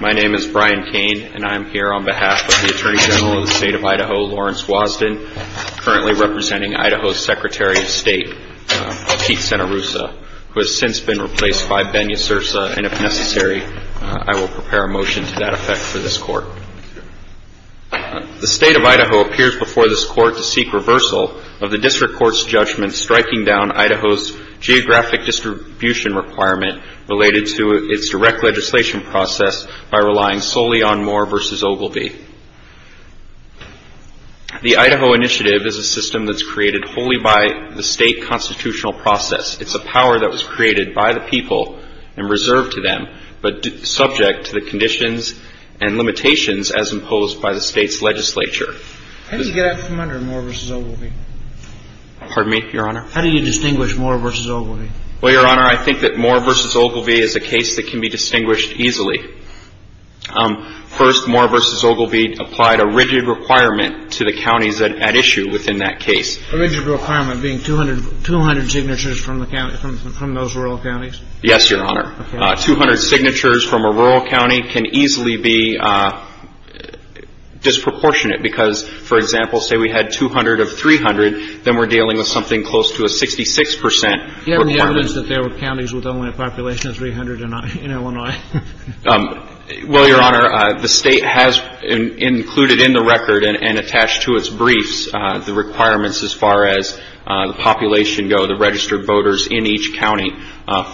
My name is Brian Kane and I am here on behalf of the Attorney General of the State of Idaho, Lawrence Wosden, currently representing Idaho's Secretary of State, Pete Cenarussa, who has since been replaced by Ben Yasursa, and if necessary, I will prepare a motion to that effect for this court. The State of Idaho appears before this court to seek reversal of the District Court's judgment striking down Idaho's geographic distribution requirement related to its direct legislation process by relying solely on Moore v. Ogilvie. The Idaho initiative is a system that's created wholly by the State constitutional process. It's a power that was created by the people and reserved to them, but subject to the conditions and limitations as imposed by the State's legislature. How do you get out from under Moore v. Ogilvie? Pardon me, Your Honor? Well, Your Honor, I think that Moore v. Ogilvie is a case that can be distinguished easily. First, Moore v. Ogilvie applied a rigid requirement to the counties at issue within that case. A rigid requirement being 200 signatures from those rural counties? Yes, Your Honor. Okay. Well, Your Honor, the State has included in the record and attached to its briefs the requirements as far as the population go, the registered voters in each county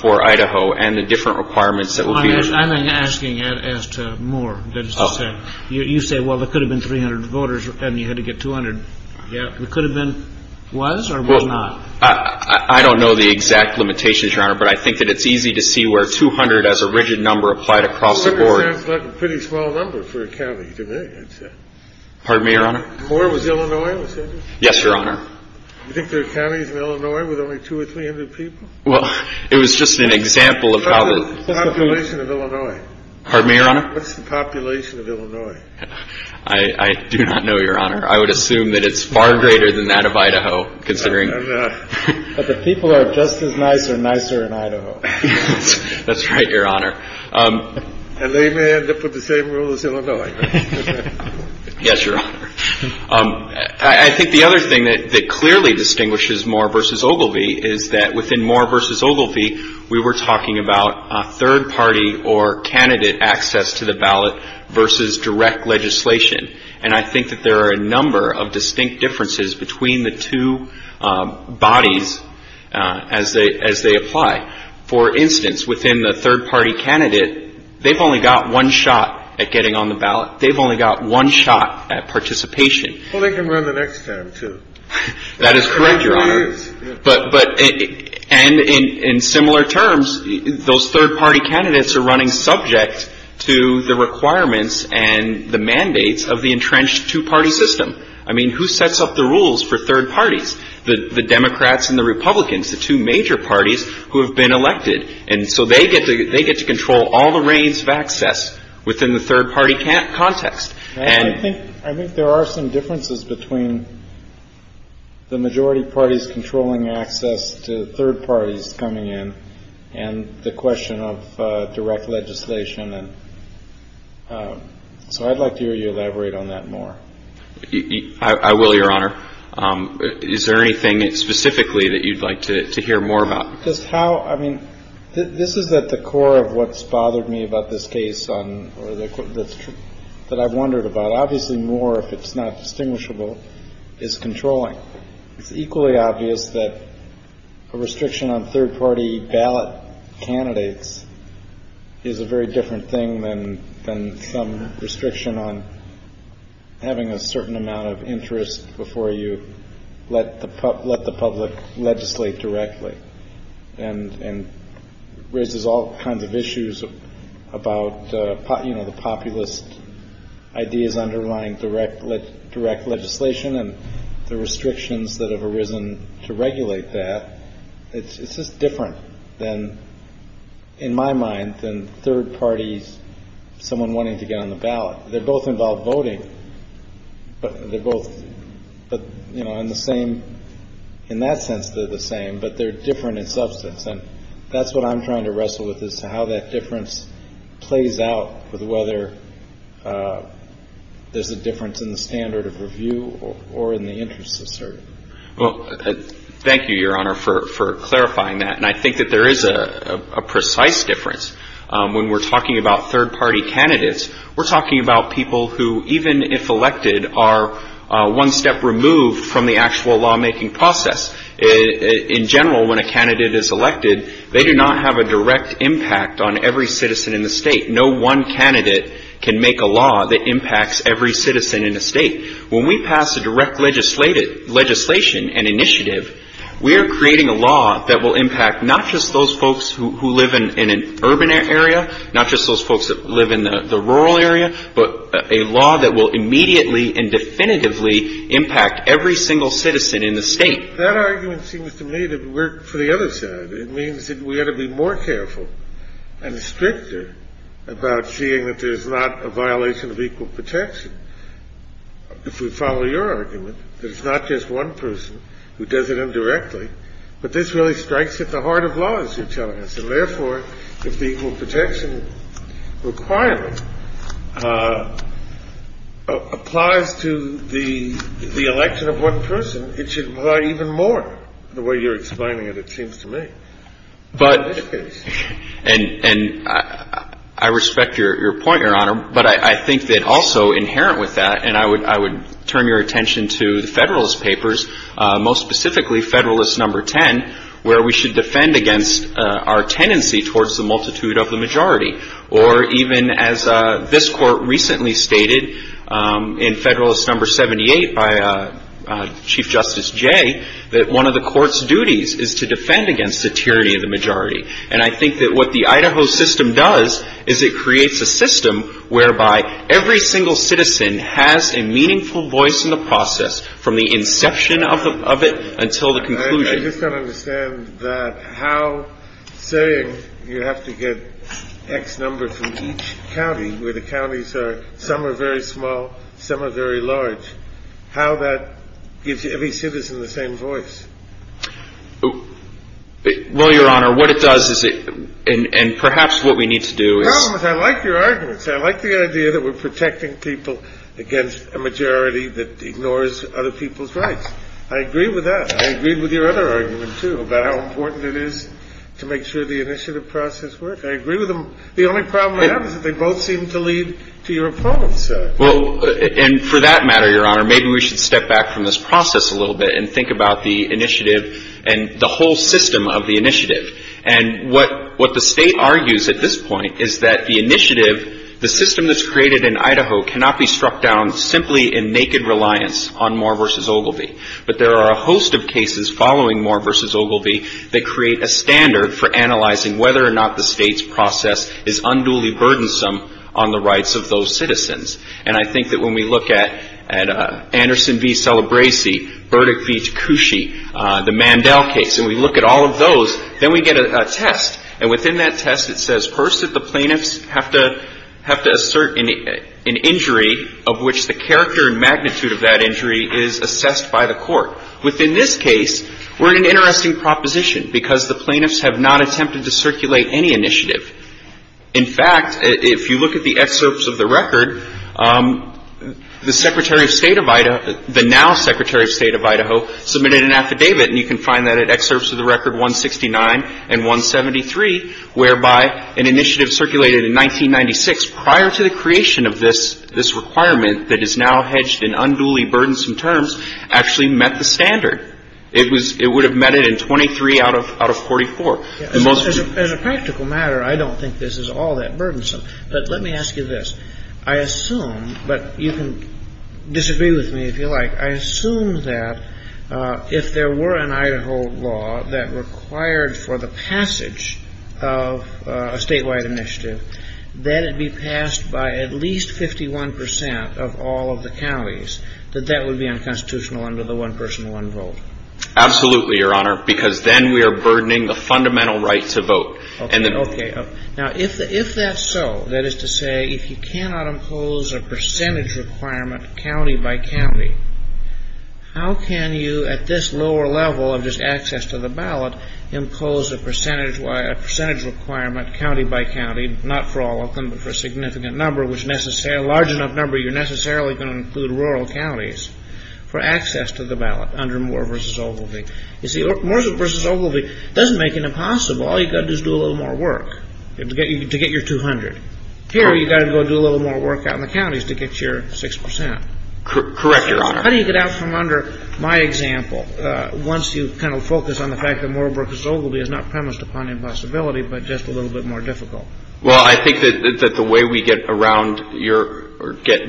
for Idaho and the different requirements that will be issued. I'm asking as to Moore, that is to say. You say, well, there could have been 300 voters and you had to get 200. Yeah, there could have been. Was or was not? I don't know the exact limitations, Your Honor, but I think that it's easy to see where 200 as a rigid number applied across the board. 200 sounds like a pretty small number for a county to me. Pardon me, Your Honor? Moore was Illinois, was it? Yes, Your Honor. You think there are counties in Illinois with only 200 or 300 people? Well, it was just an example of how the. What's the population of Illinois? Pardon me, Your Honor? What's the population of Illinois? I do not know, Your Honor. I would assume that it's far greater than that of Idaho, considering. But the people are just as nice or nicer in Idaho. That's right, Your Honor. And they may end up with the same rule as Illinois. Yes, Your Honor. I think the other thing that clearly distinguishes Moore v. Ogilvie is that within Moore v. Ogilvie, we were talking about a third party or candidate access to the ballot versus direct legislation. And I think that there are a number of distinct differences between the two bodies as they apply. For instance, within the third party candidate, they've only got one shot at getting on the ballot. They've only got one shot at participation. Well, they can run the next time, too. That is correct, Your Honor. And in similar terms, those third party candidates are running subject to the requirements and the mandates of the entrenched two-party system. I mean, who sets up the rules for third parties? The Democrats and the Republicans, the two major parties who have been elected. And so they get to control all the reins of access within the third party context. I think there are some differences between the majority parties controlling access to third parties coming in and the question of direct legislation. So I'd like to hear you elaborate on that more. I will, Your Honor. Is there anything specifically that you'd like to hear more about? Just how I mean, this is at the core of what's bothered me about this case on or that I've wondered about. Obviously, more, if it's not distinguishable, is controlling. It's equally obvious that a restriction on third party ballot candidates is a very different thing than some restriction on having a certain amount of interest before you let the let the public legislate directly. And it raises all kinds of issues about, you know, the populist ideas underlying direct direct legislation and the restrictions that have arisen to regulate that. It's just different than, in my mind, than third parties, someone wanting to get on the ballot. They both involve voting, but they're both, you know, in the same, in that sense they're the same, but they're different in substance. And that's what I'm trying to wrestle with is how that difference plays out with whether there's a difference in the standard of review or in the interest of certain. Well, thank you, Your Honor, for clarifying that. And I think that there is a precise difference when we're talking about third party candidates. We're talking about people who, even if elected, are one step removed from the actual lawmaking process. In general, when a candidate is elected, they do not have a direct impact on every citizen in the state. No one candidate can make a law that impacts every citizen in the state. When we pass a direct legislation and initiative, we are creating a law that will impact not just those folks who live in an urban area, not just those folks that live in the rural area, but a law that will immediately and definitively impact every single citizen in the state. That argument seems to me to work for the other side. It means that we ought to be more careful and stricter about seeing that there's not a violation of equal protection. If we follow your argument, there's not just one person who does it indirectly. But this really strikes at the heart of law, as you're telling us. And therefore, if the equal protection requirement applies to the election of one person, it should apply even more, the way you're explaining it, it seems to me, in this case. And I respect your point, Your Honor. But I think that also inherent with that, and I would turn your attention to the Federalist Papers, most specifically Federalist Number 10, where we should defend against our tendency towards the multitude of the majority. Or even as this court recently stated in Federalist Number 78 by Chief Justice Jay, that one of the court's duties is to defend against the tyranny of the majority. And I think that what the Idaho system does is it creates a system whereby every single citizen has a meaningful voice in the process, from the inception of it until the conclusion. I just don't understand that how, saying you have to get X number from each county, where the counties are, some are very small, some are very large, how that gives every citizen the same voice. Well, Your Honor, what it does is it – and perhaps what we need to do is – The problem is I like your arguments. I like the idea that we're protecting people against a majority that ignores other people's rights. I agree with that. I agree with your other argument, too, about how important it is to make sure the initiative process works. I agree with them. The only problem I have is that they both seem to lead to your opponents. Well, and for that matter, Your Honor, maybe we should step back from this process a little bit and think about the initiative and the whole system of the initiative. And what the State argues at this point is that the initiative, the system that's created in Idaho, cannot be struck down simply in naked reliance on Moore v. Ogilvie. But there are a host of cases following Moore v. Ogilvie that create a standard for analyzing whether or not the State's process is unduly burdensome on the rights of those citizens. And I think that when we look at Anderson v. Celebresi, Burdick v. Tkuchy, the Mandel case, and we look at all of those, then we get a test. And within that test, it says first that the plaintiffs have to assert an injury of which the character and magnitude of that injury is assessed by the court. Within this case, we're in an interesting proposition because the plaintiffs have not attempted to circulate any initiative. In fact, if you look at the excerpts of the record, the Secretary of State of Idaho, the now Secretary of State of Idaho submitted an affidavit, and you can find that in excerpts of the record 169 and 173, whereby an initiative circulated in 1996, prior to the creation of this requirement that is now hedged in unduly burdensome terms, actually met the standard. It would have met it in 23 out of 44. The most of the... As a practical matter, I don't think this is all that burdensome. But let me ask you this. I assume, but you can disagree with me if you like, I assume that if there were an Idaho law that required for the passage of a statewide initiative, that it be passed by at least 51% of all of the counties, that that would be unconstitutional under the one-person, one-vote. Absolutely, Your Honor, because then we are burdening the fundamental right to vote. Okay, okay. Now, if that's so, that is to say, if you cannot impose a percentage requirement county by county, how can you, at this lower level of just access to the ballot, impose a percentage requirement county by county, not for all of them, but for a significant number, a large enough number you're necessarily going to include rural counties, for access to the ballot under Moore v. Ogilvie? You see, Moore v. Ogilvie doesn't make it impossible. All you've got to do is do a little more work to get your 200. Here, you've got to go do a little more work out in the counties to get your 6%. Correct, Your Honor. How do you get out from under my example, once you kind of focus on the fact that Moore v. Ogilvie is not premised upon impossibility, but just a little bit more difficult? Well, I think that the way we get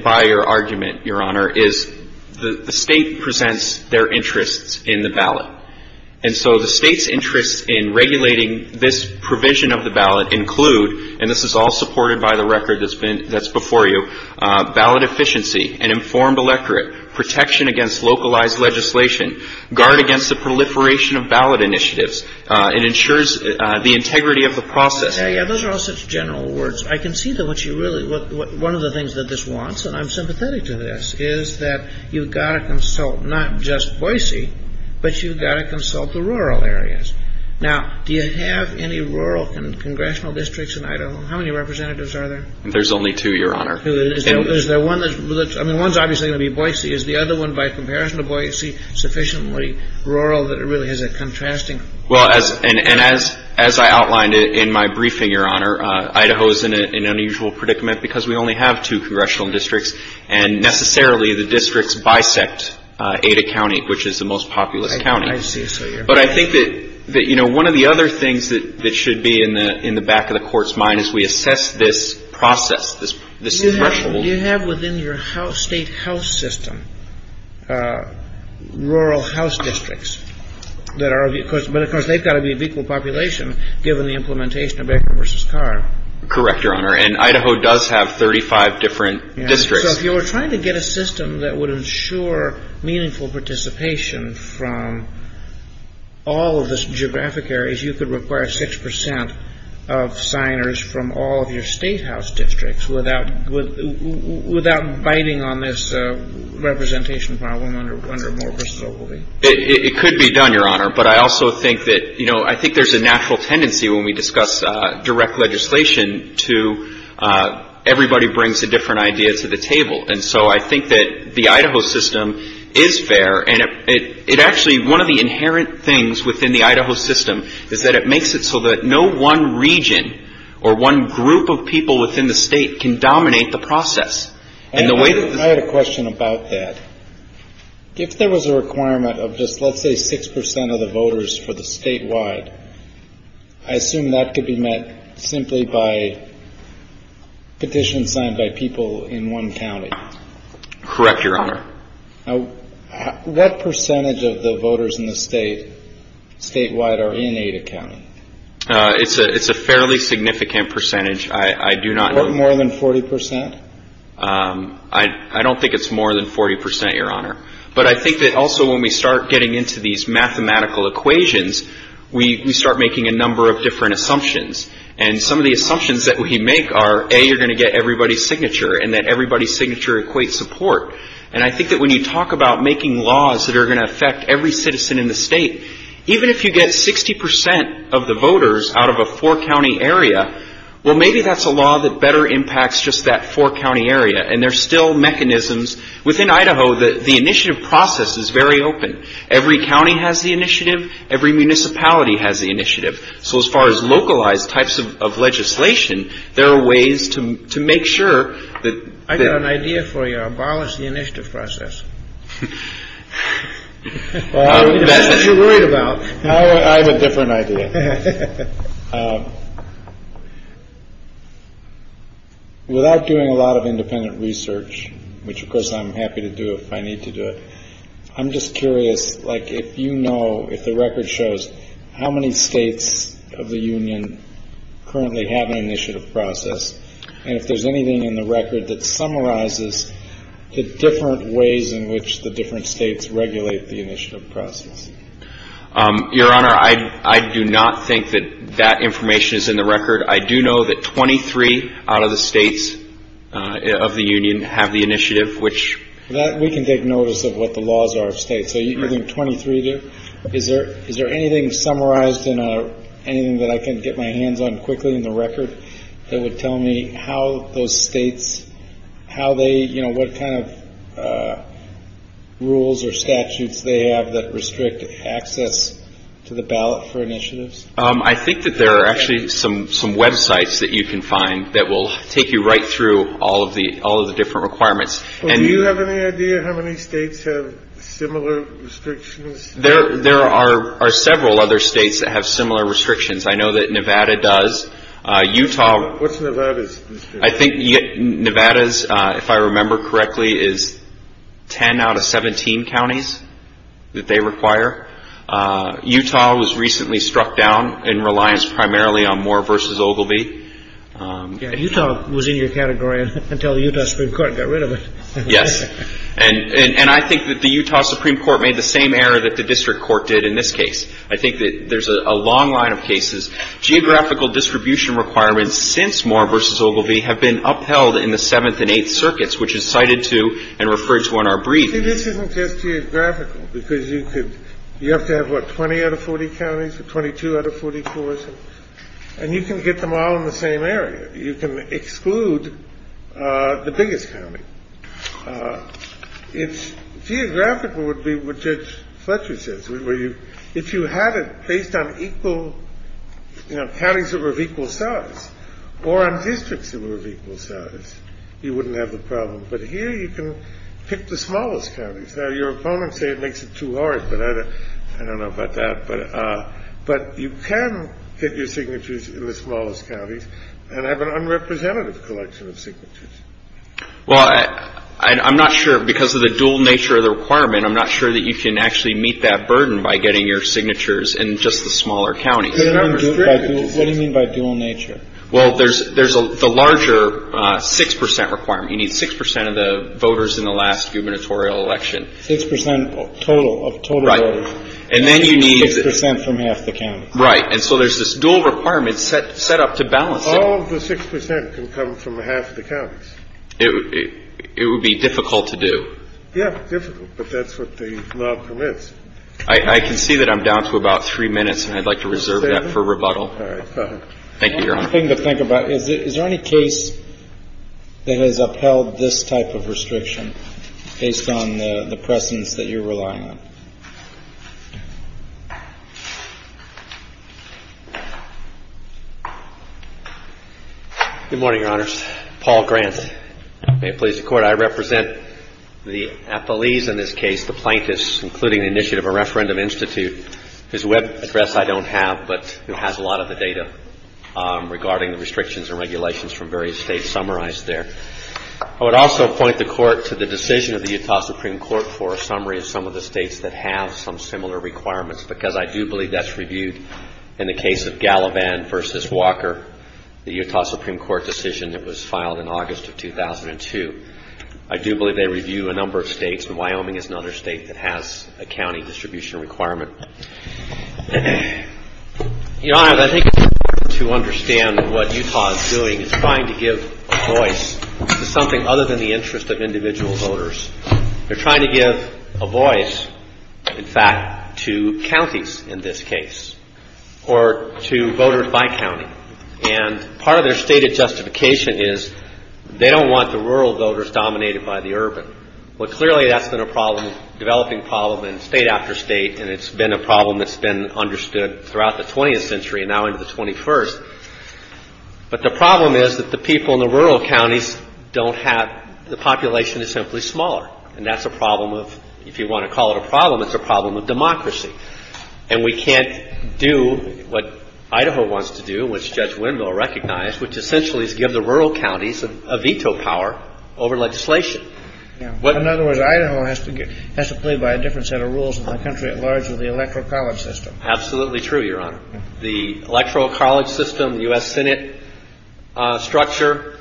by your argument, Your Honor, is the State presents their interests in the ballot. And so the State's interests in regulating this provision of the ballot include, and this is all supported by the record that's before you, ballot efficiency, an informed electorate, protection against localized legislation, guard against the proliferation of ballot initiatives, and ensures the integrity of the process. Yeah, yeah, those are all such general words. I can see that what you really, one of the things that this wants, and I'm sympathetic to this, is that you've got to consult not just Boise, but you've got to consult the rural areas. Now, do you have any rural congressional districts in Idaho? How many representatives are there? There's only two, Your Honor. Is there one that's, I mean, one's obviously going to be Boise. Is the other one, by comparison to Boise, sufficiently rural that it really has a contrasting? Well, and as I outlined in my briefing, Your Honor, Idaho is an unusual predicament because we only have two congressional districts, and necessarily the districts bisect Ada County, which is the most populous county. I see. But I think that, you know, one of the other things that should be in the back of the court's mind is we assess this process, this threshold. Do you have within your state health system rural house districts that are, but of course they've got to be of equal population given the implementation of Edgar v. Carr. Correct, Your Honor, and Idaho does have 35 different districts. So if you were trying to get a system that would ensure meaningful participation from all of the geographic areas, you could require 6 percent of signers from all of your state house districts without biting on this representation problem under Moore v. Ogilvie. It could be done, Your Honor, but I also think that, you know, I think there's a natural tendency when we discuss direct legislation to everybody brings a different idea to the table. And so I think that the Idaho system is fair, and it actually, one of the inherent things within the Idaho system is that it makes it so that no one region or one group of people within the state can dominate the process. I had a question about that. If there was a requirement of just, let's say, 6 percent of the voters for the statewide, I assume that could be met simply by petition signed by people in one county. Correct, Your Honor. What percentage of the voters in the state statewide are in Idaho County? It's a fairly significant percentage. More than 40 percent? I don't think it's more than 40 percent, Your Honor. But I think that also when we start getting into these mathematical equations, we start making a number of different assumptions. And some of the assumptions that we make are, A, you're going to get everybody's signature, and that everybody's signature equates support. And I think that when you talk about making laws that are going to affect every citizen in the state, even if you get 60 percent of the voters out of a four-county area, well, maybe that's a law that better impacts just that four-county area. And there are still mechanisms within Idaho that the initiative process is very open. Every county has the initiative. Every municipality has the initiative. So as far as localized types of legislation, there are ways to make sure that. I've got an idea for you. Abolish the initiative process. That's what you're worried about. I have a different idea. Without doing a lot of independent research, which, of course, I'm happy to do if I need to do it. I'm just curious, like, you know, if the record shows how many states of the union currently have an initiative process. And if there's anything in the record that summarizes the different ways in which the different states regulate the initiative process. Your Honor, I do not think that that information is in the record. I do know that 23 out of the states of the union have the initiative, which. That we can take notice of what the laws are of state. So you're doing 23. Is there is there anything summarized in anything that I can get my hands on quickly in the record that would tell me how those states, how they what kind of rules or statutes they have that restrict access to the ballot for initiatives? I think that there are actually some some Web sites that you can find that will take you right through all of the all of the different requirements. And you have any idea how many states have similar restrictions? There there are several other states that have similar restrictions. I know that Nevada does. Utah. I think Nevada's, if I remember correctly, is 10 out of 17 counties that they require. Utah was recently struck down in reliance primarily on Moore versus Ogilvie. Utah was in your category until you got rid of it. Yes. And I think that the Utah Supreme Court made the same error that the district court did in this case. I think that there's a long line of cases. Geographical distribution requirements since Moore versus Ogilvie have been upheld in the seventh and eighth circuits, which is cited to and referred to on our brief. This isn't just geographical, because you could you have to have what, 20 out of 40 counties, 22 out of 44. And you can get them all in the same area. You can exclude the biggest county. It's geographical would be what Judge Fletcher says. If you had it based on equal counties that were of equal size or on districts that were of equal size, you wouldn't have the problem. But here you can pick the smallest counties. Now, your opponents say it makes it too hard. But I don't know about that. But but you can get your signatures in the smallest counties and have an unrepresentative collection of signatures. Well, I'm not sure because of the dual nature of the requirement. I'm not sure that you can actually meet that burden by getting your signatures and just the smaller counties. What do you mean by dual nature? Well, there's there's the larger six percent requirement. You need six percent of the voters in the last gubernatorial election. Six percent total of total. And then you need six percent from half the county. Right. And so there's this dual requirement set set up to balance. All of the six percent can come from half the counties. It would be difficult to do. Yeah. Difficult. But that's what the law permits. I can see that I'm down to about three minutes. And I'd like to reserve that for rebuttal. Thank you. Is there any case that has upheld this type of restriction based on the precedents that you're relying on? Good morning, Your Honors. Paul Grant. May it please the Court. I represent the affilies in this case, the plaintiffs, including the initiative, a referendum institute. There's a web address I don't have, but it has a lot of the data regarding the restrictions and regulations from various states summarized there. I would also point the Court to the decision of the Utah Supreme Court for a summary of some of the states that have some similar requirements, because I do believe that's reviewed. In the case of Gallivan v. Walker, the Utah Supreme Court decision that was filed in August of 2002, I do believe they review a number of states. And Wyoming is another state that has a county distribution requirement. Your Honors, I think it's important to understand what Utah is doing. It's trying to give a voice to something other than the interest of individual voters. They're trying to give a voice, in fact, to counties in this case or to voters by county. And part of their stated justification is they don't want the rural voters dominated by the urban. Well, clearly that's been a problem, developing problem in state after state, and it's been a problem that's been understood throughout the 20th century and now into the 21st. But the problem is that the people in the rural counties don't have the population is simply smaller. And that's a problem of, if you want to call it a problem, it's a problem of democracy. And we can't do what Idaho wants to do, which Judge Winville recognized, which essentially is give the rural counties a veto power over legislation. In other words, Idaho has to get has to play by a different set of rules in the country at large with the electoral college system. Absolutely true, Your Honor. The electoral college system, the U.S. Senate structure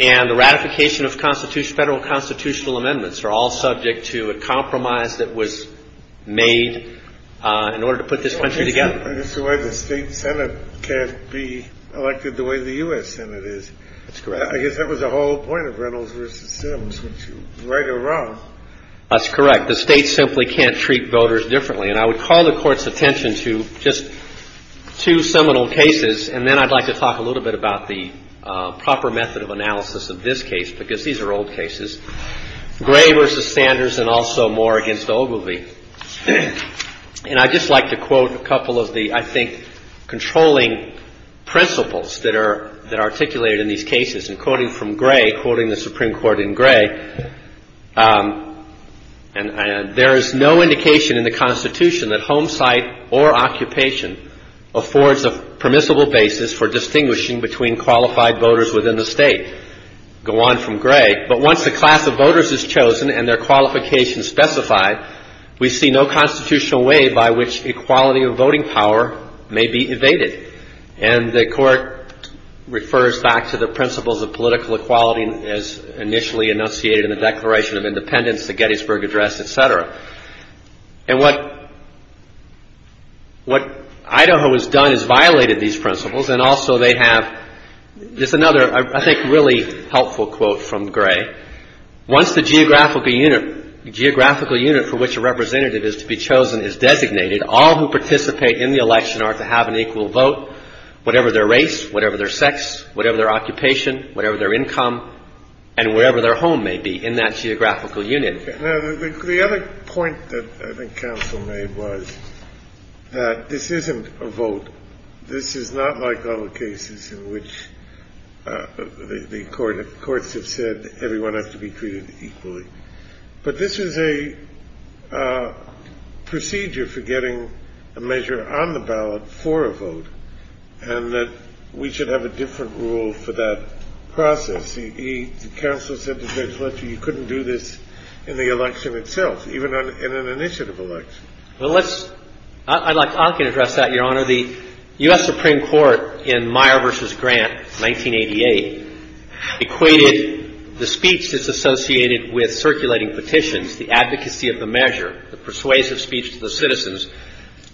and the ratification of Constitution, federal constitutional amendments are all subject to a compromise that was made in order to put this country together. It's the way the state Senate can't be elected the way the U.S. Senate is. That's correct. I guess that was the whole point of Reynolds versus Sims, which is right or wrong. That's correct. The state simply can't treat voters differently. And I would call the court's attention to just two seminal cases. And then I'd like to talk a little bit about the proper method of analysis of this case, because these are old cases. Gray versus Sanders and also more against Ogilvie. And I'd just like to quote a couple of the, I think, controlling principles that are that are articulated in these cases. And quoting from Gray, quoting the Supreme Court in Gray. And there is no indication in the Constitution that home site or occupation affords a permissible basis for distinguishing between qualified voters within the state. Go on from Gray. But once the class of voters is chosen and their qualifications specified, we see no constitutional way by which equality of voting power may be evaded. And the court refers back to the principles of political equality as initially enunciated in the Declaration of Independence, the Gettysburg Address, etc. And what what Idaho has done is violated these principles. And also they have just another, I think, really helpful quote from Gray. Once the geographical unit, geographical unit for which a representative is to be chosen is designated, all who participate in the election are to have an equal vote, whatever their race, whatever their sex, whatever their occupation, whatever their income and wherever their home may be in that geographical union. The other point that I think Council made was that this isn't a vote. This is not like other cases in which the court courts have said everyone has to be treated equally. But this is a procedure for getting a measure on the ballot for a vote and that we should have a different rule for that process. The counsel said that you couldn't do this in the election itself, even in an initiative election. Well, let's I'd like to address that, Your Honor. The U.S. Supreme Court in Meyer versus Grant, 1988, equated the speech that's associated with circulating petitions, the advocacy of the measure, the persuasive speech to the citizens.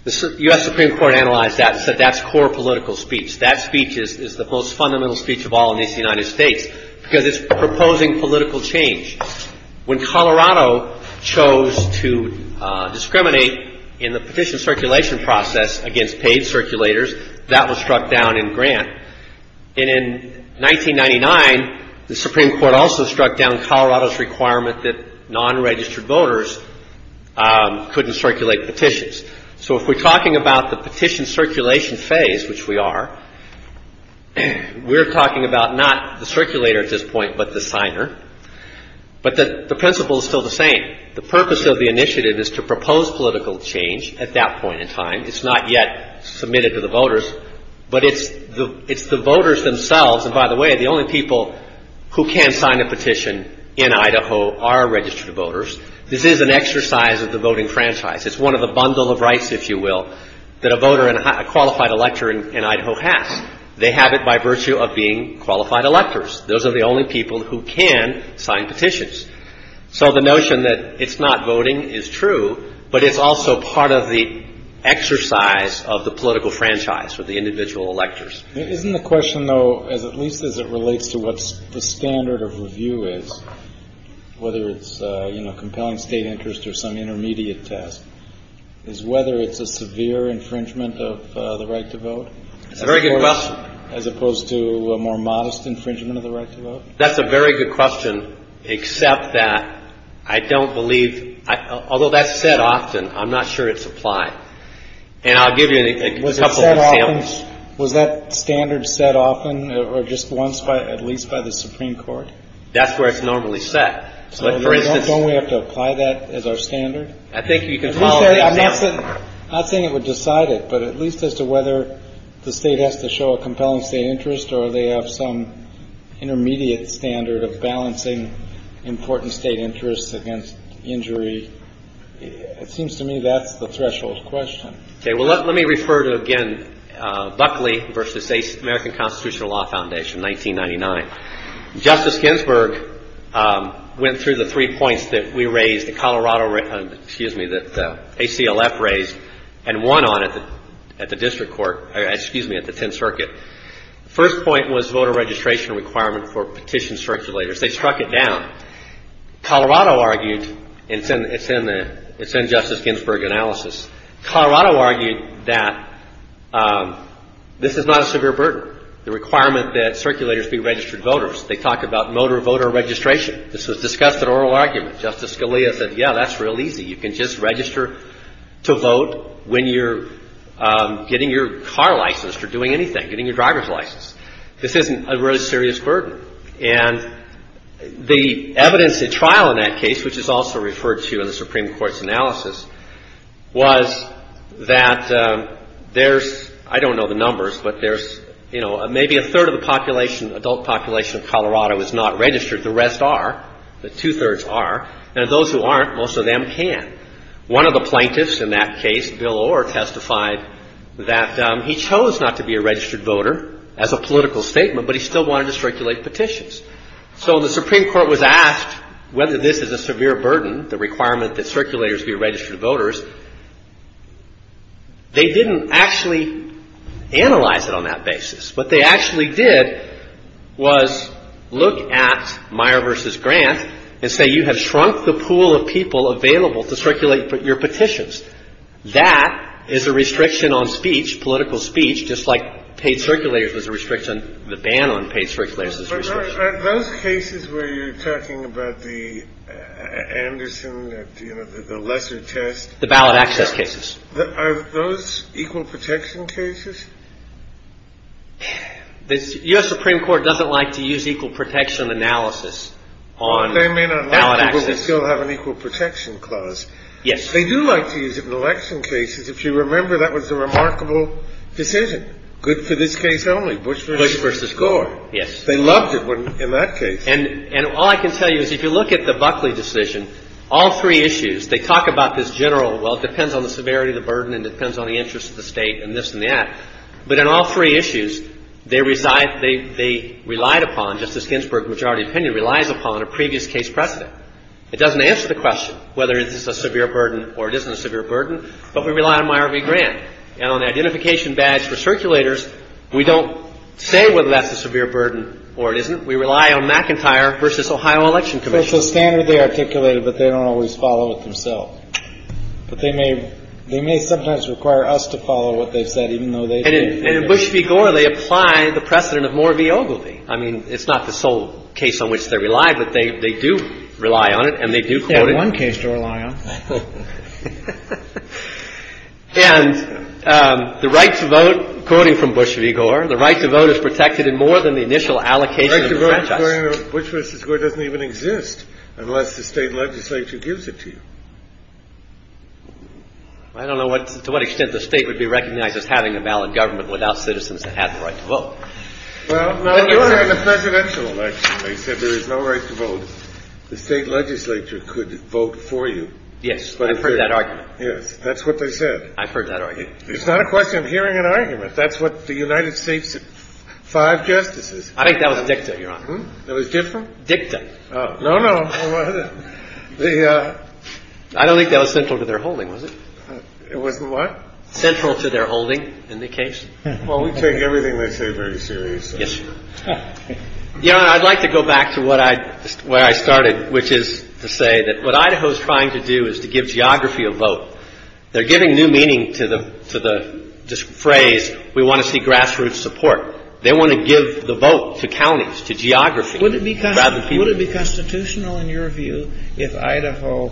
The U.S. Supreme Court analyzed that and said that's core political speech. That speech is the most fundamental speech of all in the United States because it's proposing political change. When Colorado chose to discriminate in the petition circulation process against paid circulators, that was struck down in Grant. And in 1999, the Supreme Court also struck down Colorado's requirement that non-registered voters couldn't circulate petitions. So if we're talking about the petition circulation phase, which we are, we're talking about not the circulator at this point, but the signer, but the principle is still the same. The purpose of the initiative is to propose political change at that point in time. It's not yet submitted to the voters, but it's the voters themselves. And by the way, the only people who can sign a petition in Idaho are registered voters. This is an exercise of the voting franchise. It's one of the bundle of rights, if you will, that a voter and a qualified elector in Idaho has. They have it by virtue of being qualified electors. Those are the only people who can sign petitions. So the notion that it's not voting is true, but it's also part of the exercise of the political franchise for the individual electors. Isn't the question, though, at least as it relates to what the standard of review is, whether it's compelling state interest or some intermediate test, is whether it's a severe infringement of the right to vote? It's a very good question. As opposed to a more modest infringement of the right to vote? That's a very good question, except that I don't believe, although that's said often, I'm not sure it's applied. And I'll give you a couple of examples. Was that standard set often or just once, at least by the Supreme Court? That's where it's normally set. Don't we have to apply that as our standard? I think you can follow the example. I'm not saying it would decide it, but at least as to whether the state has to show a compelling state interest or they have some intermediate standard of balancing important state interests against injury. It seems to me that's the threshold question. Okay, well, let me refer to, again, Buckley v. American Constitutional Law Foundation, 1999. Justice Ginsburg went through the three points that we raised, the Colorado, excuse me, that ACLF raised and won on at the district court, excuse me, at the 10th Circuit. First point was voter registration requirement for petition circulators. They struck it down. Colorado argued, and it's in Justice Ginsburg analysis. Colorado argued that this is not a severe burden, the requirement that circulators be registered voters. They talk about motor voter registration. This was discussed at oral argument. Justice Scalia said, yeah, that's real easy. You can just register to vote when you're getting your car license or doing anything, getting your driver's license. This isn't a really serious burden. And the evidence at trial in that case, which is also referred to in the Supreme Court's analysis, was that there's, I don't know the numbers, but there's, you know, maybe a third of the population, adult population of Colorado is not registered. The rest are. The two-thirds are. And those who aren't, most of them can. One of the plaintiffs in that case, Bill Orr, testified that he chose not to be a registered voter as a political statement, but he still wanted to circulate petitions. So the Supreme Court was asked whether this is a severe burden, the requirement that circulators be registered voters. They didn't actually analyze it on that basis. What they actually did was look at Meyer v. Grant and say, you have shrunk the pool of people available to circulate your petitions. That is a restriction on speech, political speech, just like paid circulators was a restriction, the ban on paid circulators is a restriction. Are those cases where you're talking about the Anderson, the lesser test? The ballot access cases. Are those equal protection cases? The U.S. Supreme Court doesn't like to use equal protection analysis on ballot access. They may not like it, but they still have an equal protection clause. Yes. They do like to use it in election cases. If you remember, that was a remarkable decision. Good for this case only, Bush v. Gore. Yes. They loved it in that case. And all I can tell you is if you look at the Buckley decision, all three issues, they talk about this general, well, it depends on the severity of the burden and depends on the interest of the State and this and that. But in all three issues, they relied upon, Justice Ginsburg's majority opinion relies upon, a previous case precedent. It doesn't answer the question whether this is a severe burden or it isn't a severe burden, but we rely on Meyer v. Grant. And on the identification badge for circulators, we don't say whether that's a severe burden or it isn't. We rely on McIntyre v. Ohio Election Commission. It's a standard they articulated, but they don't always follow it themselves. But they may sometimes require us to follow what they've said, even though they do. And in Bush v. Gore, they apply the precedent of Moore v. Ogilvie. I mean, it's not the sole case on which they rely, but they do rely on it and they do quote it. They have one case to rely on. And the right to vote, quoting from Bush v. Gore, the right to vote is protected in more than the initial allocation of the franchise. The right to vote, according to Bush v. Gore, doesn't even exist unless the State legislature gives it to you. I don't know to what extent the State would be recognized as having a valid government without citizens that have the right to vote. Well, no. In the presidential election, they said there is no right to vote. So the State legislature could vote for you. Yes. I've heard that argument. Yes. That's what they said. I've heard that argument. It's not a question of hearing an argument. That's what the United States five justices. I think that was dicta, Your Honor. It was different? Dicta. No, no. I don't think that was central to their holding, was it? It was what? Central to their holding in the case. Well, we take everything they say very seriously. Yes. Your Honor, I'd like to go back to where I started, which is to say that what Idaho is trying to do is to give geography a vote. They're giving new meaning to the phrase, we want to see grassroots support. They want to give the vote to counties, to geography, rather than people. Would it be constitutional, in your view, if Idaho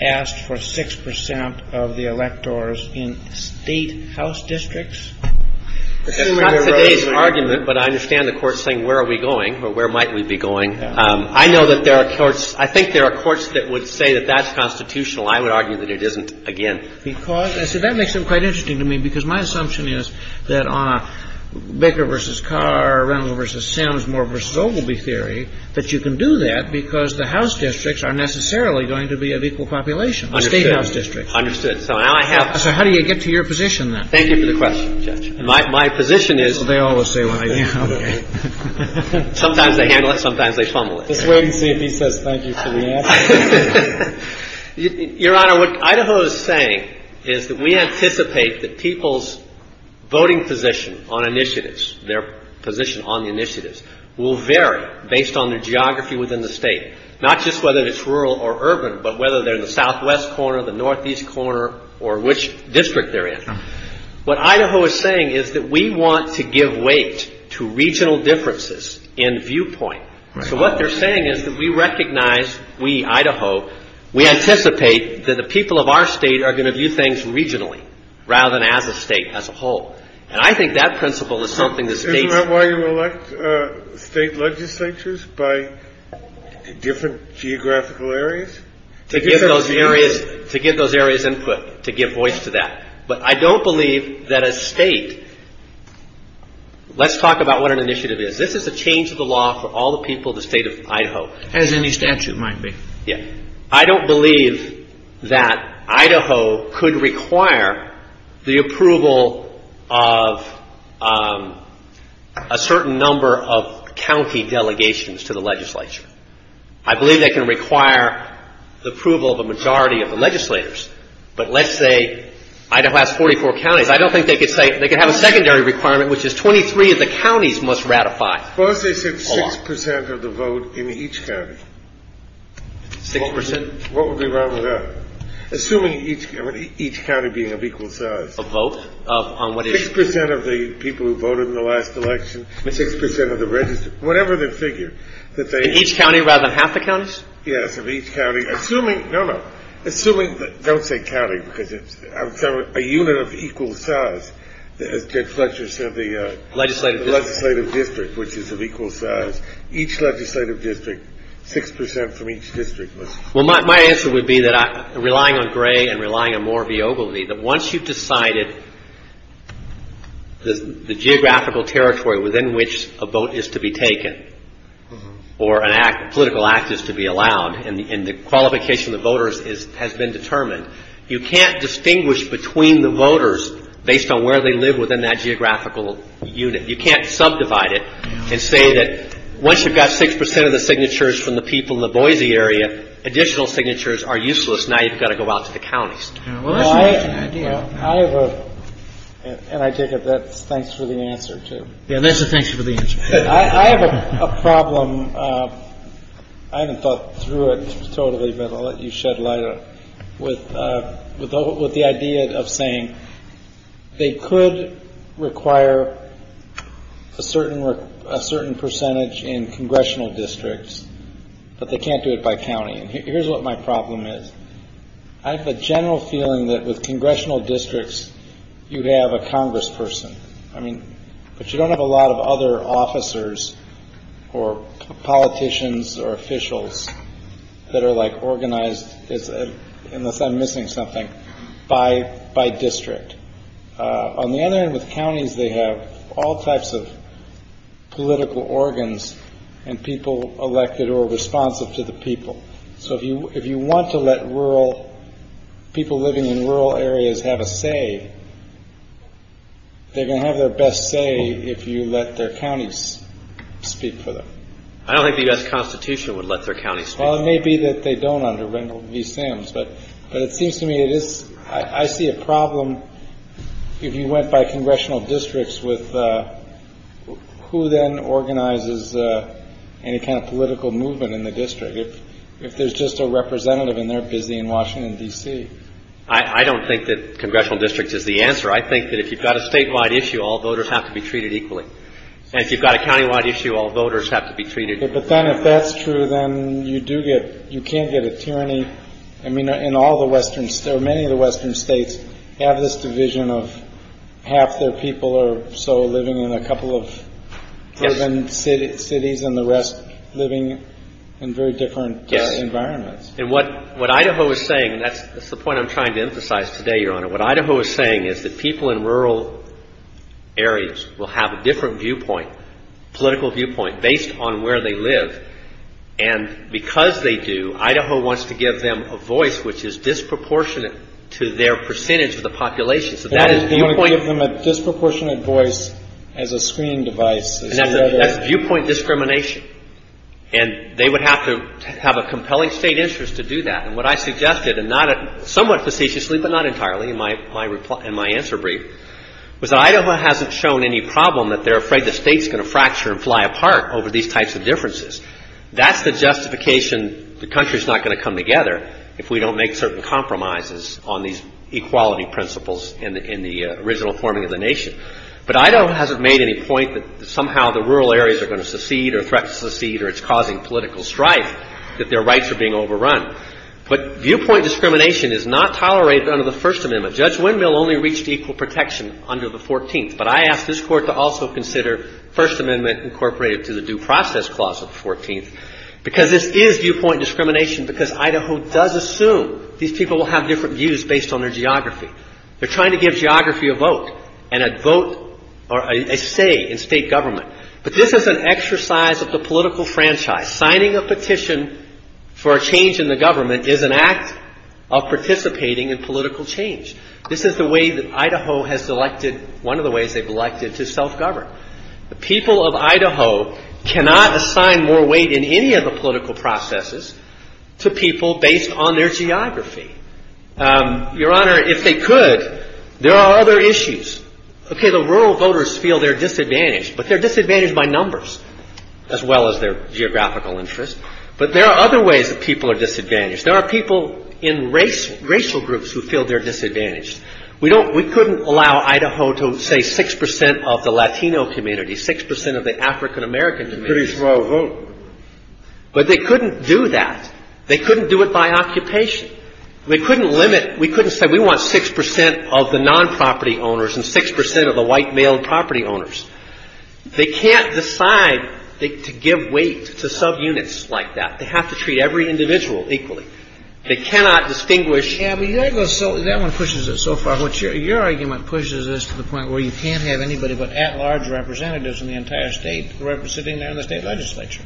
asked for 6 percent of the electors in State house districts? It's not today's argument, but I understand the court saying where are we going or where might we be going. I know that there are courts – I think there are courts that would say that that's constitutional. I would argue that it isn't, again. Because – see, that makes it quite interesting to me, because my assumption is that on Baker v. Carr, Reynolds v. Sims, Moore v. Ogilvie theory, that you can do that because the house districts are necessarily going to be of equal population, State house districts. Understood. So now I have – So how do you get to your position, then? Thank you for the question, Judge. My position is – Well, they always say what I do. Okay. Sometimes they handle it, sometimes they fumble it. Just wait and see if he says thank you for the answer. Your Honor, what Idaho is saying is that we anticipate that people's voting position on initiatives, their position on the initiatives, will vary based on their geography within the State. Not just whether it's rural or urban, but whether they're in the southwest corner, the northeast corner, or which district they're in. What Idaho is saying is that we want to give weight to regional differences in viewpoint. So what they're saying is that we recognize we, Idaho, we anticipate that the people of our State are going to view things regionally, rather than as a State, as a whole. And I think that principle is something that States – Isn't that why you elect State legislatures by different geographical areas? To give those areas input, to give voice to that. But I don't believe that a State – let's talk about what an initiative is. This is a change of the law for all the people of the State of Idaho. As any statute might be. Yeah. I don't believe that Idaho could require the approval of a certain number of county delegations to the legislature. I believe they can require the approval of a majority of the legislators. But let's say Idaho has 44 counties. I don't think they could say – they could have a secondary requirement, which is 23 of the counties must ratify. Well, let's say 6 percent of the vote in each county. 6 percent? What would be wrong with that? Assuming each county being of equal size. Of vote? On what issue? 6 percent of the people who voted in the last election, 6 percent of the registered – whatever the figure. In each county rather than half the counties? Yes, of each county. Assuming – no, no. Assuming – don't say county, because I'm talking about a unit of equal size. As Ted Fletcher said, the legislative district, which is of equal size. Each legislative district, 6 percent from each district. Well, my answer would be that relying on Gray and relying on more viability, that once you've decided the geographical territory within which a vote is to be taken or a political act is to be allowed and the qualification of the voters has been determined, you can't distinguish between the voters based on where they live within that geographical unit. You can't subdivide it and say that once you've got 6 percent of the signatures from the people in the Boise area, additional signatures are useless. Now you've got to go out to the counties. Well, I have a – and I take it that's thanks for the answer, too. Yeah, that's a thanks for the answer. I have a problem. I haven't thought through it totally, but I'll let you shed light on it. With the idea of saying they could require a certain percentage in congressional districts, but they can't do it by county. And here's what my problem is. I have a general feeling that with congressional districts, you'd have a congressperson. I mean, but you don't have a lot of other officers or politicians or officials that are, like, organized – unless I'm missing something – by district. On the other end, with counties, they have all types of political organs and people elected or responsive to the people. So if you want to let rural – people living in rural areas have a say, they're going to have their best say if you let their counties speak for them. I don't think the U.S. Constitution would let their counties speak for them. Well, it may be that they don't under Wendell v. Sims, but it seems to me it is – I see a problem if you went by congressional districts with who then organizes any kind of political movement in the district. If there's just a representative and they're busy in Washington, D.C. I don't think that congressional districts is the answer. I think that if you've got a statewide issue, all voters have to be treated equally. And if you've got a countywide issue, all voters have to be treated equally. But then if that's true, then you do get – you can't get a tyranny. I mean, in all the western – or many of the western states have this division of half their people are so living in a couple of urban cities and the rest living in very different environments. Yes. And what Idaho is saying – and that's the point I'm trying to emphasize today, Your Honor – what Idaho is saying is that people in rural areas will have a different viewpoint, political viewpoint, based on where they live. And because they do, Idaho wants to give them a voice which is disproportionate to their percentage of the population. So that is viewpoint – They want to give them a disproportionate voice as a screening device. That's viewpoint discrimination. And they would have to have a compelling state interest to do that. And what I suggested, and somewhat facetiously but not entirely in my answer brief, was that Idaho hasn't shown any problem that they're afraid the state's going to fracture and fly apart over these types of differences. That's the justification the country's not going to come together if we don't make certain compromises on these equality principles in the original forming of the nation. But Idaho hasn't made any point that somehow the rural areas are going to secede or threaten to secede or it's causing political strife, that their rights are being overrun. But viewpoint discrimination is not tolerated under the First Amendment. Judge Windmill only reached equal protection under the 14th. But I ask this Court to also consider First Amendment incorporated to the Due Process Clause of the 14th because this is viewpoint discrimination because Idaho does assume these people will have different views based on their geography. They're trying to give geography a vote and a vote or a say in state government. But this is an exercise of the political franchise. Signing a petition for a change in the government is an act of participating in political change. This is the way that Idaho has elected – one of the ways they've elected to self-govern. The people of Idaho cannot assign more weight in any of the political processes to people based on their geography. Your Honor, if they could, there are other issues. Okay, the rural voters feel they're disadvantaged, but they're disadvantaged by numbers as well as their geographical interest. But there are other ways that people are disadvantaged. There are people in racial groups who feel they're disadvantaged. We don't – we couldn't allow Idaho to say 6 percent of the Latino community, 6 percent of the African American community. A pretty small vote. But they couldn't do that. They couldn't do it by occupation. They couldn't limit – we couldn't say we want 6 percent of the non-property owners and 6 percent of the white male property owners. They can't decide to give weight to subunits like that. They have to treat every individual equally. They cannot distinguish – Yeah, but that one pushes it so far. Your argument pushes this to the point where you can't have anybody but at-large representatives in the entire state representing them in the state legislature.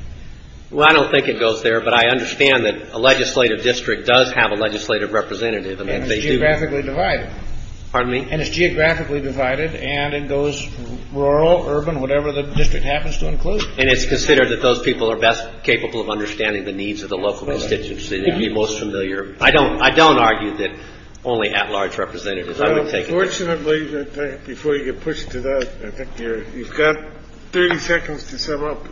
Well, I don't think it goes there, but I understand that a legislative district does have a legislative representative. And it's geographically divided. Pardon me? And it's geographically divided, and it goes rural, urban, whatever the district happens to include. And it's considered that those people are best capable of understanding the needs of the local constituency. They'd be most familiar. I don't argue that only at-large representatives are going to take it. Well, unfortunately, before you get pushed to that, I think you've got 30 seconds to sum up.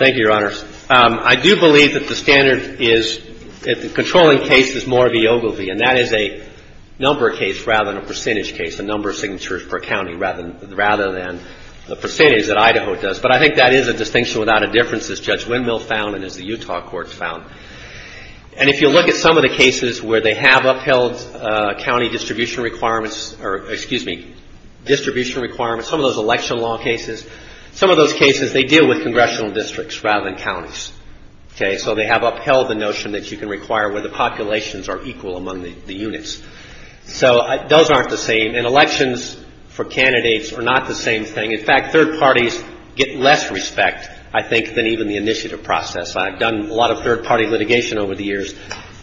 Thank you, Your Honors. I do believe that the standard is – the controlling case is more of a Yogo v. And that is a number case rather than a percentage case, a number of signatures per county rather than the percentage that Idaho does. But I think that is a distinction without a difference, as Judge Windmill found and as the Utah courts found. And if you look at some of the cases where they have upheld county distribution requirements or, excuse me, distribution requirements, some of those election law cases, some of those cases they deal with congressional districts rather than counties. Okay? So they have upheld the notion that you can require where the populations are equal among the units. So those aren't the same. And elections for candidates are not the same thing. In fact, third parties get less respect, I think, than even the initiative process. I've done a lot of third-party litigation over the years.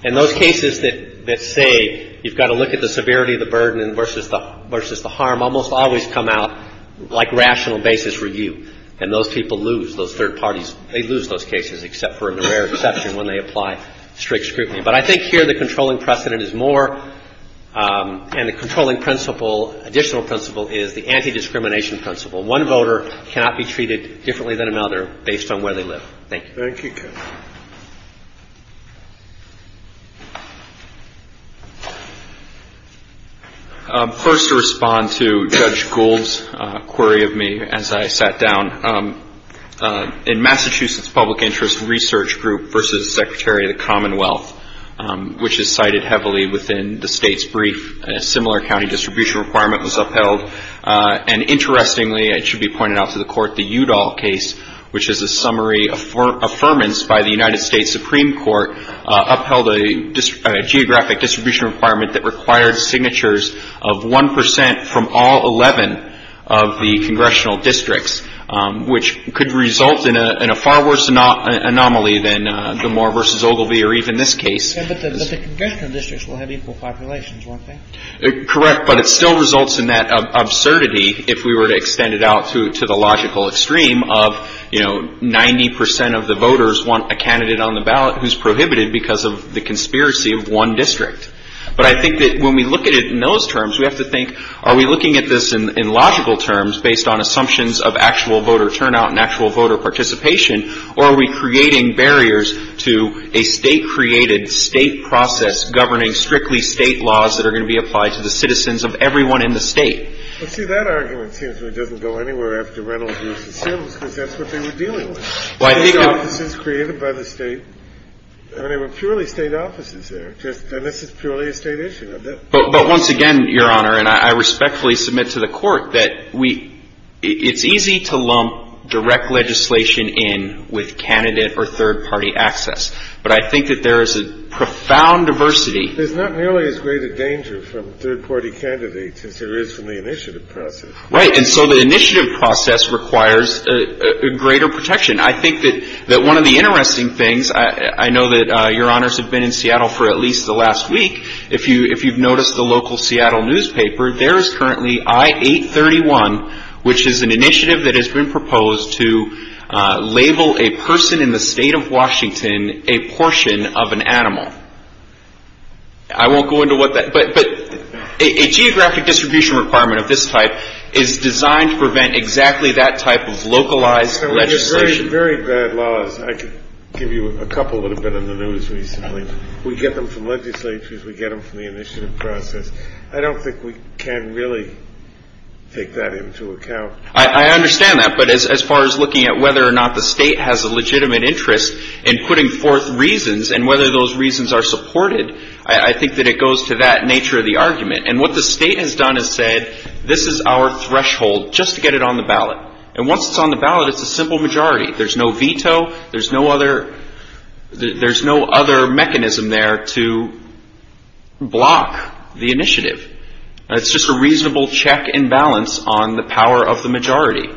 And those cases that say you've got to look at the severity of the burden versus the harm almost always come out like rational basis review. And those people lose, those third parties. They lose those cases except for a rare exception when they apply strict scrutiny. But I think here the controlling precedent is more – and the controlling principle, additional principle is the anti-discrimination principle. One voter cannot be treated differently than another based on where they live. Thank you. Thank you, Kevin. First to respond to Judge Gould's query of me as I sat down, in Massachusetts Public Interest Research Group versus Secretary of the Commonwealth, which is cited heavily within the state's brief, a similar county distribution requirement was upheld. And interestingly, it should be pointed out to the court, the Udall case, which is a summary of affirmance by the United States Supreme Court, upheld a geographic distribution requirement that required signatures of 1 percent from all 11 of the congressional districts, which could result in a far worse anomaly than the Moore versus Ogilvie or even this case. But the congressional districts will have equal populations, won't they? Correct. But it still results in that absurdity if we were to extend it out to the logical extreme of, you know, 90 percent of the voters want a candidate on the ballot who's prohibited because of the conspiracy of one district. But I think that when we look at it in those terms, we have to think, are we looking at this in logical terms based on assumptions of actual voter turnout and actual voter participation, or are we creating barriers to a state-created state process governing strictly state laws that are going to be applied to the citizens of everyone in the state? Well, see, that argument seems to me doesn't go anywhere after Reynolds versus Sims because that's what they were dealing with. State offices created by the state. I mean, they were purely state offices there. And this is purely a state issue. But once again, Your Honor, and I respectfully submit to the Court that it's easy to lump direct legislation in with candidate or third-party access. But I think that there is a profound diversity. There's not nearly as great a danger from a third-party candidate as there is from the initiative process. Right. And so the initiative process requires greater protection. I think that one of the interesting things, I know that Your Honors have been in Seattle for at least the last week. If you've noticed the local Seattle newspaper, there is currently I-831, which is an initiative that has been proposed to label a person in the state of Washington a portion of an animal. I won't go into what that – but a geographic distribution requirement of this type is designed to prevent exactly that type of localized legislation. There are very, very bad laws. I could give you a couple that have been in the news recently. We get them from legislatures. We get them from the initiative process. I don't think we can really take that into account. I understand that. But as far as looking at whether or not the state has a legitimate interest in putting forth reasons and whether those reasons are supported, I think that it goes to that nature of the argument. And what the state has done is said, this is our threshold, just to get it on the ballot. And once it's on the ballot, it's a simple majority. There's no veto. There's no other mechanism there to block the initiative. It's just a reasonable check and balance on the power of the majority.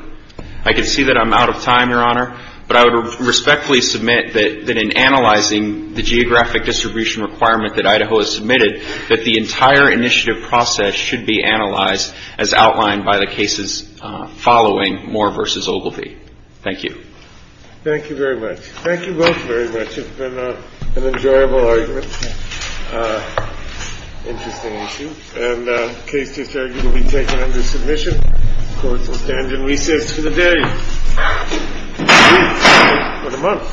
I can see that I'm out of time, Your Honor, but I would respectfully submit that in analyzing the geographic distribution requirement that Idaho has submitted, that the entire initiative process should be analyzed as outlined by the cases following Moore v. Ogilvie. Thank you. Thank you very much. Thank you both very much. It's been an enjoyable argument, interesting issue. And the case just argued will be taken under submission. The courts will stand in recess for the day. All rise.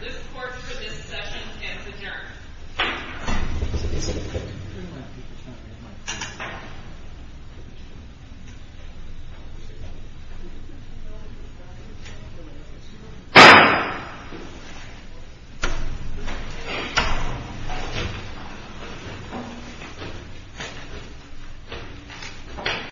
This court for this session is adjourned.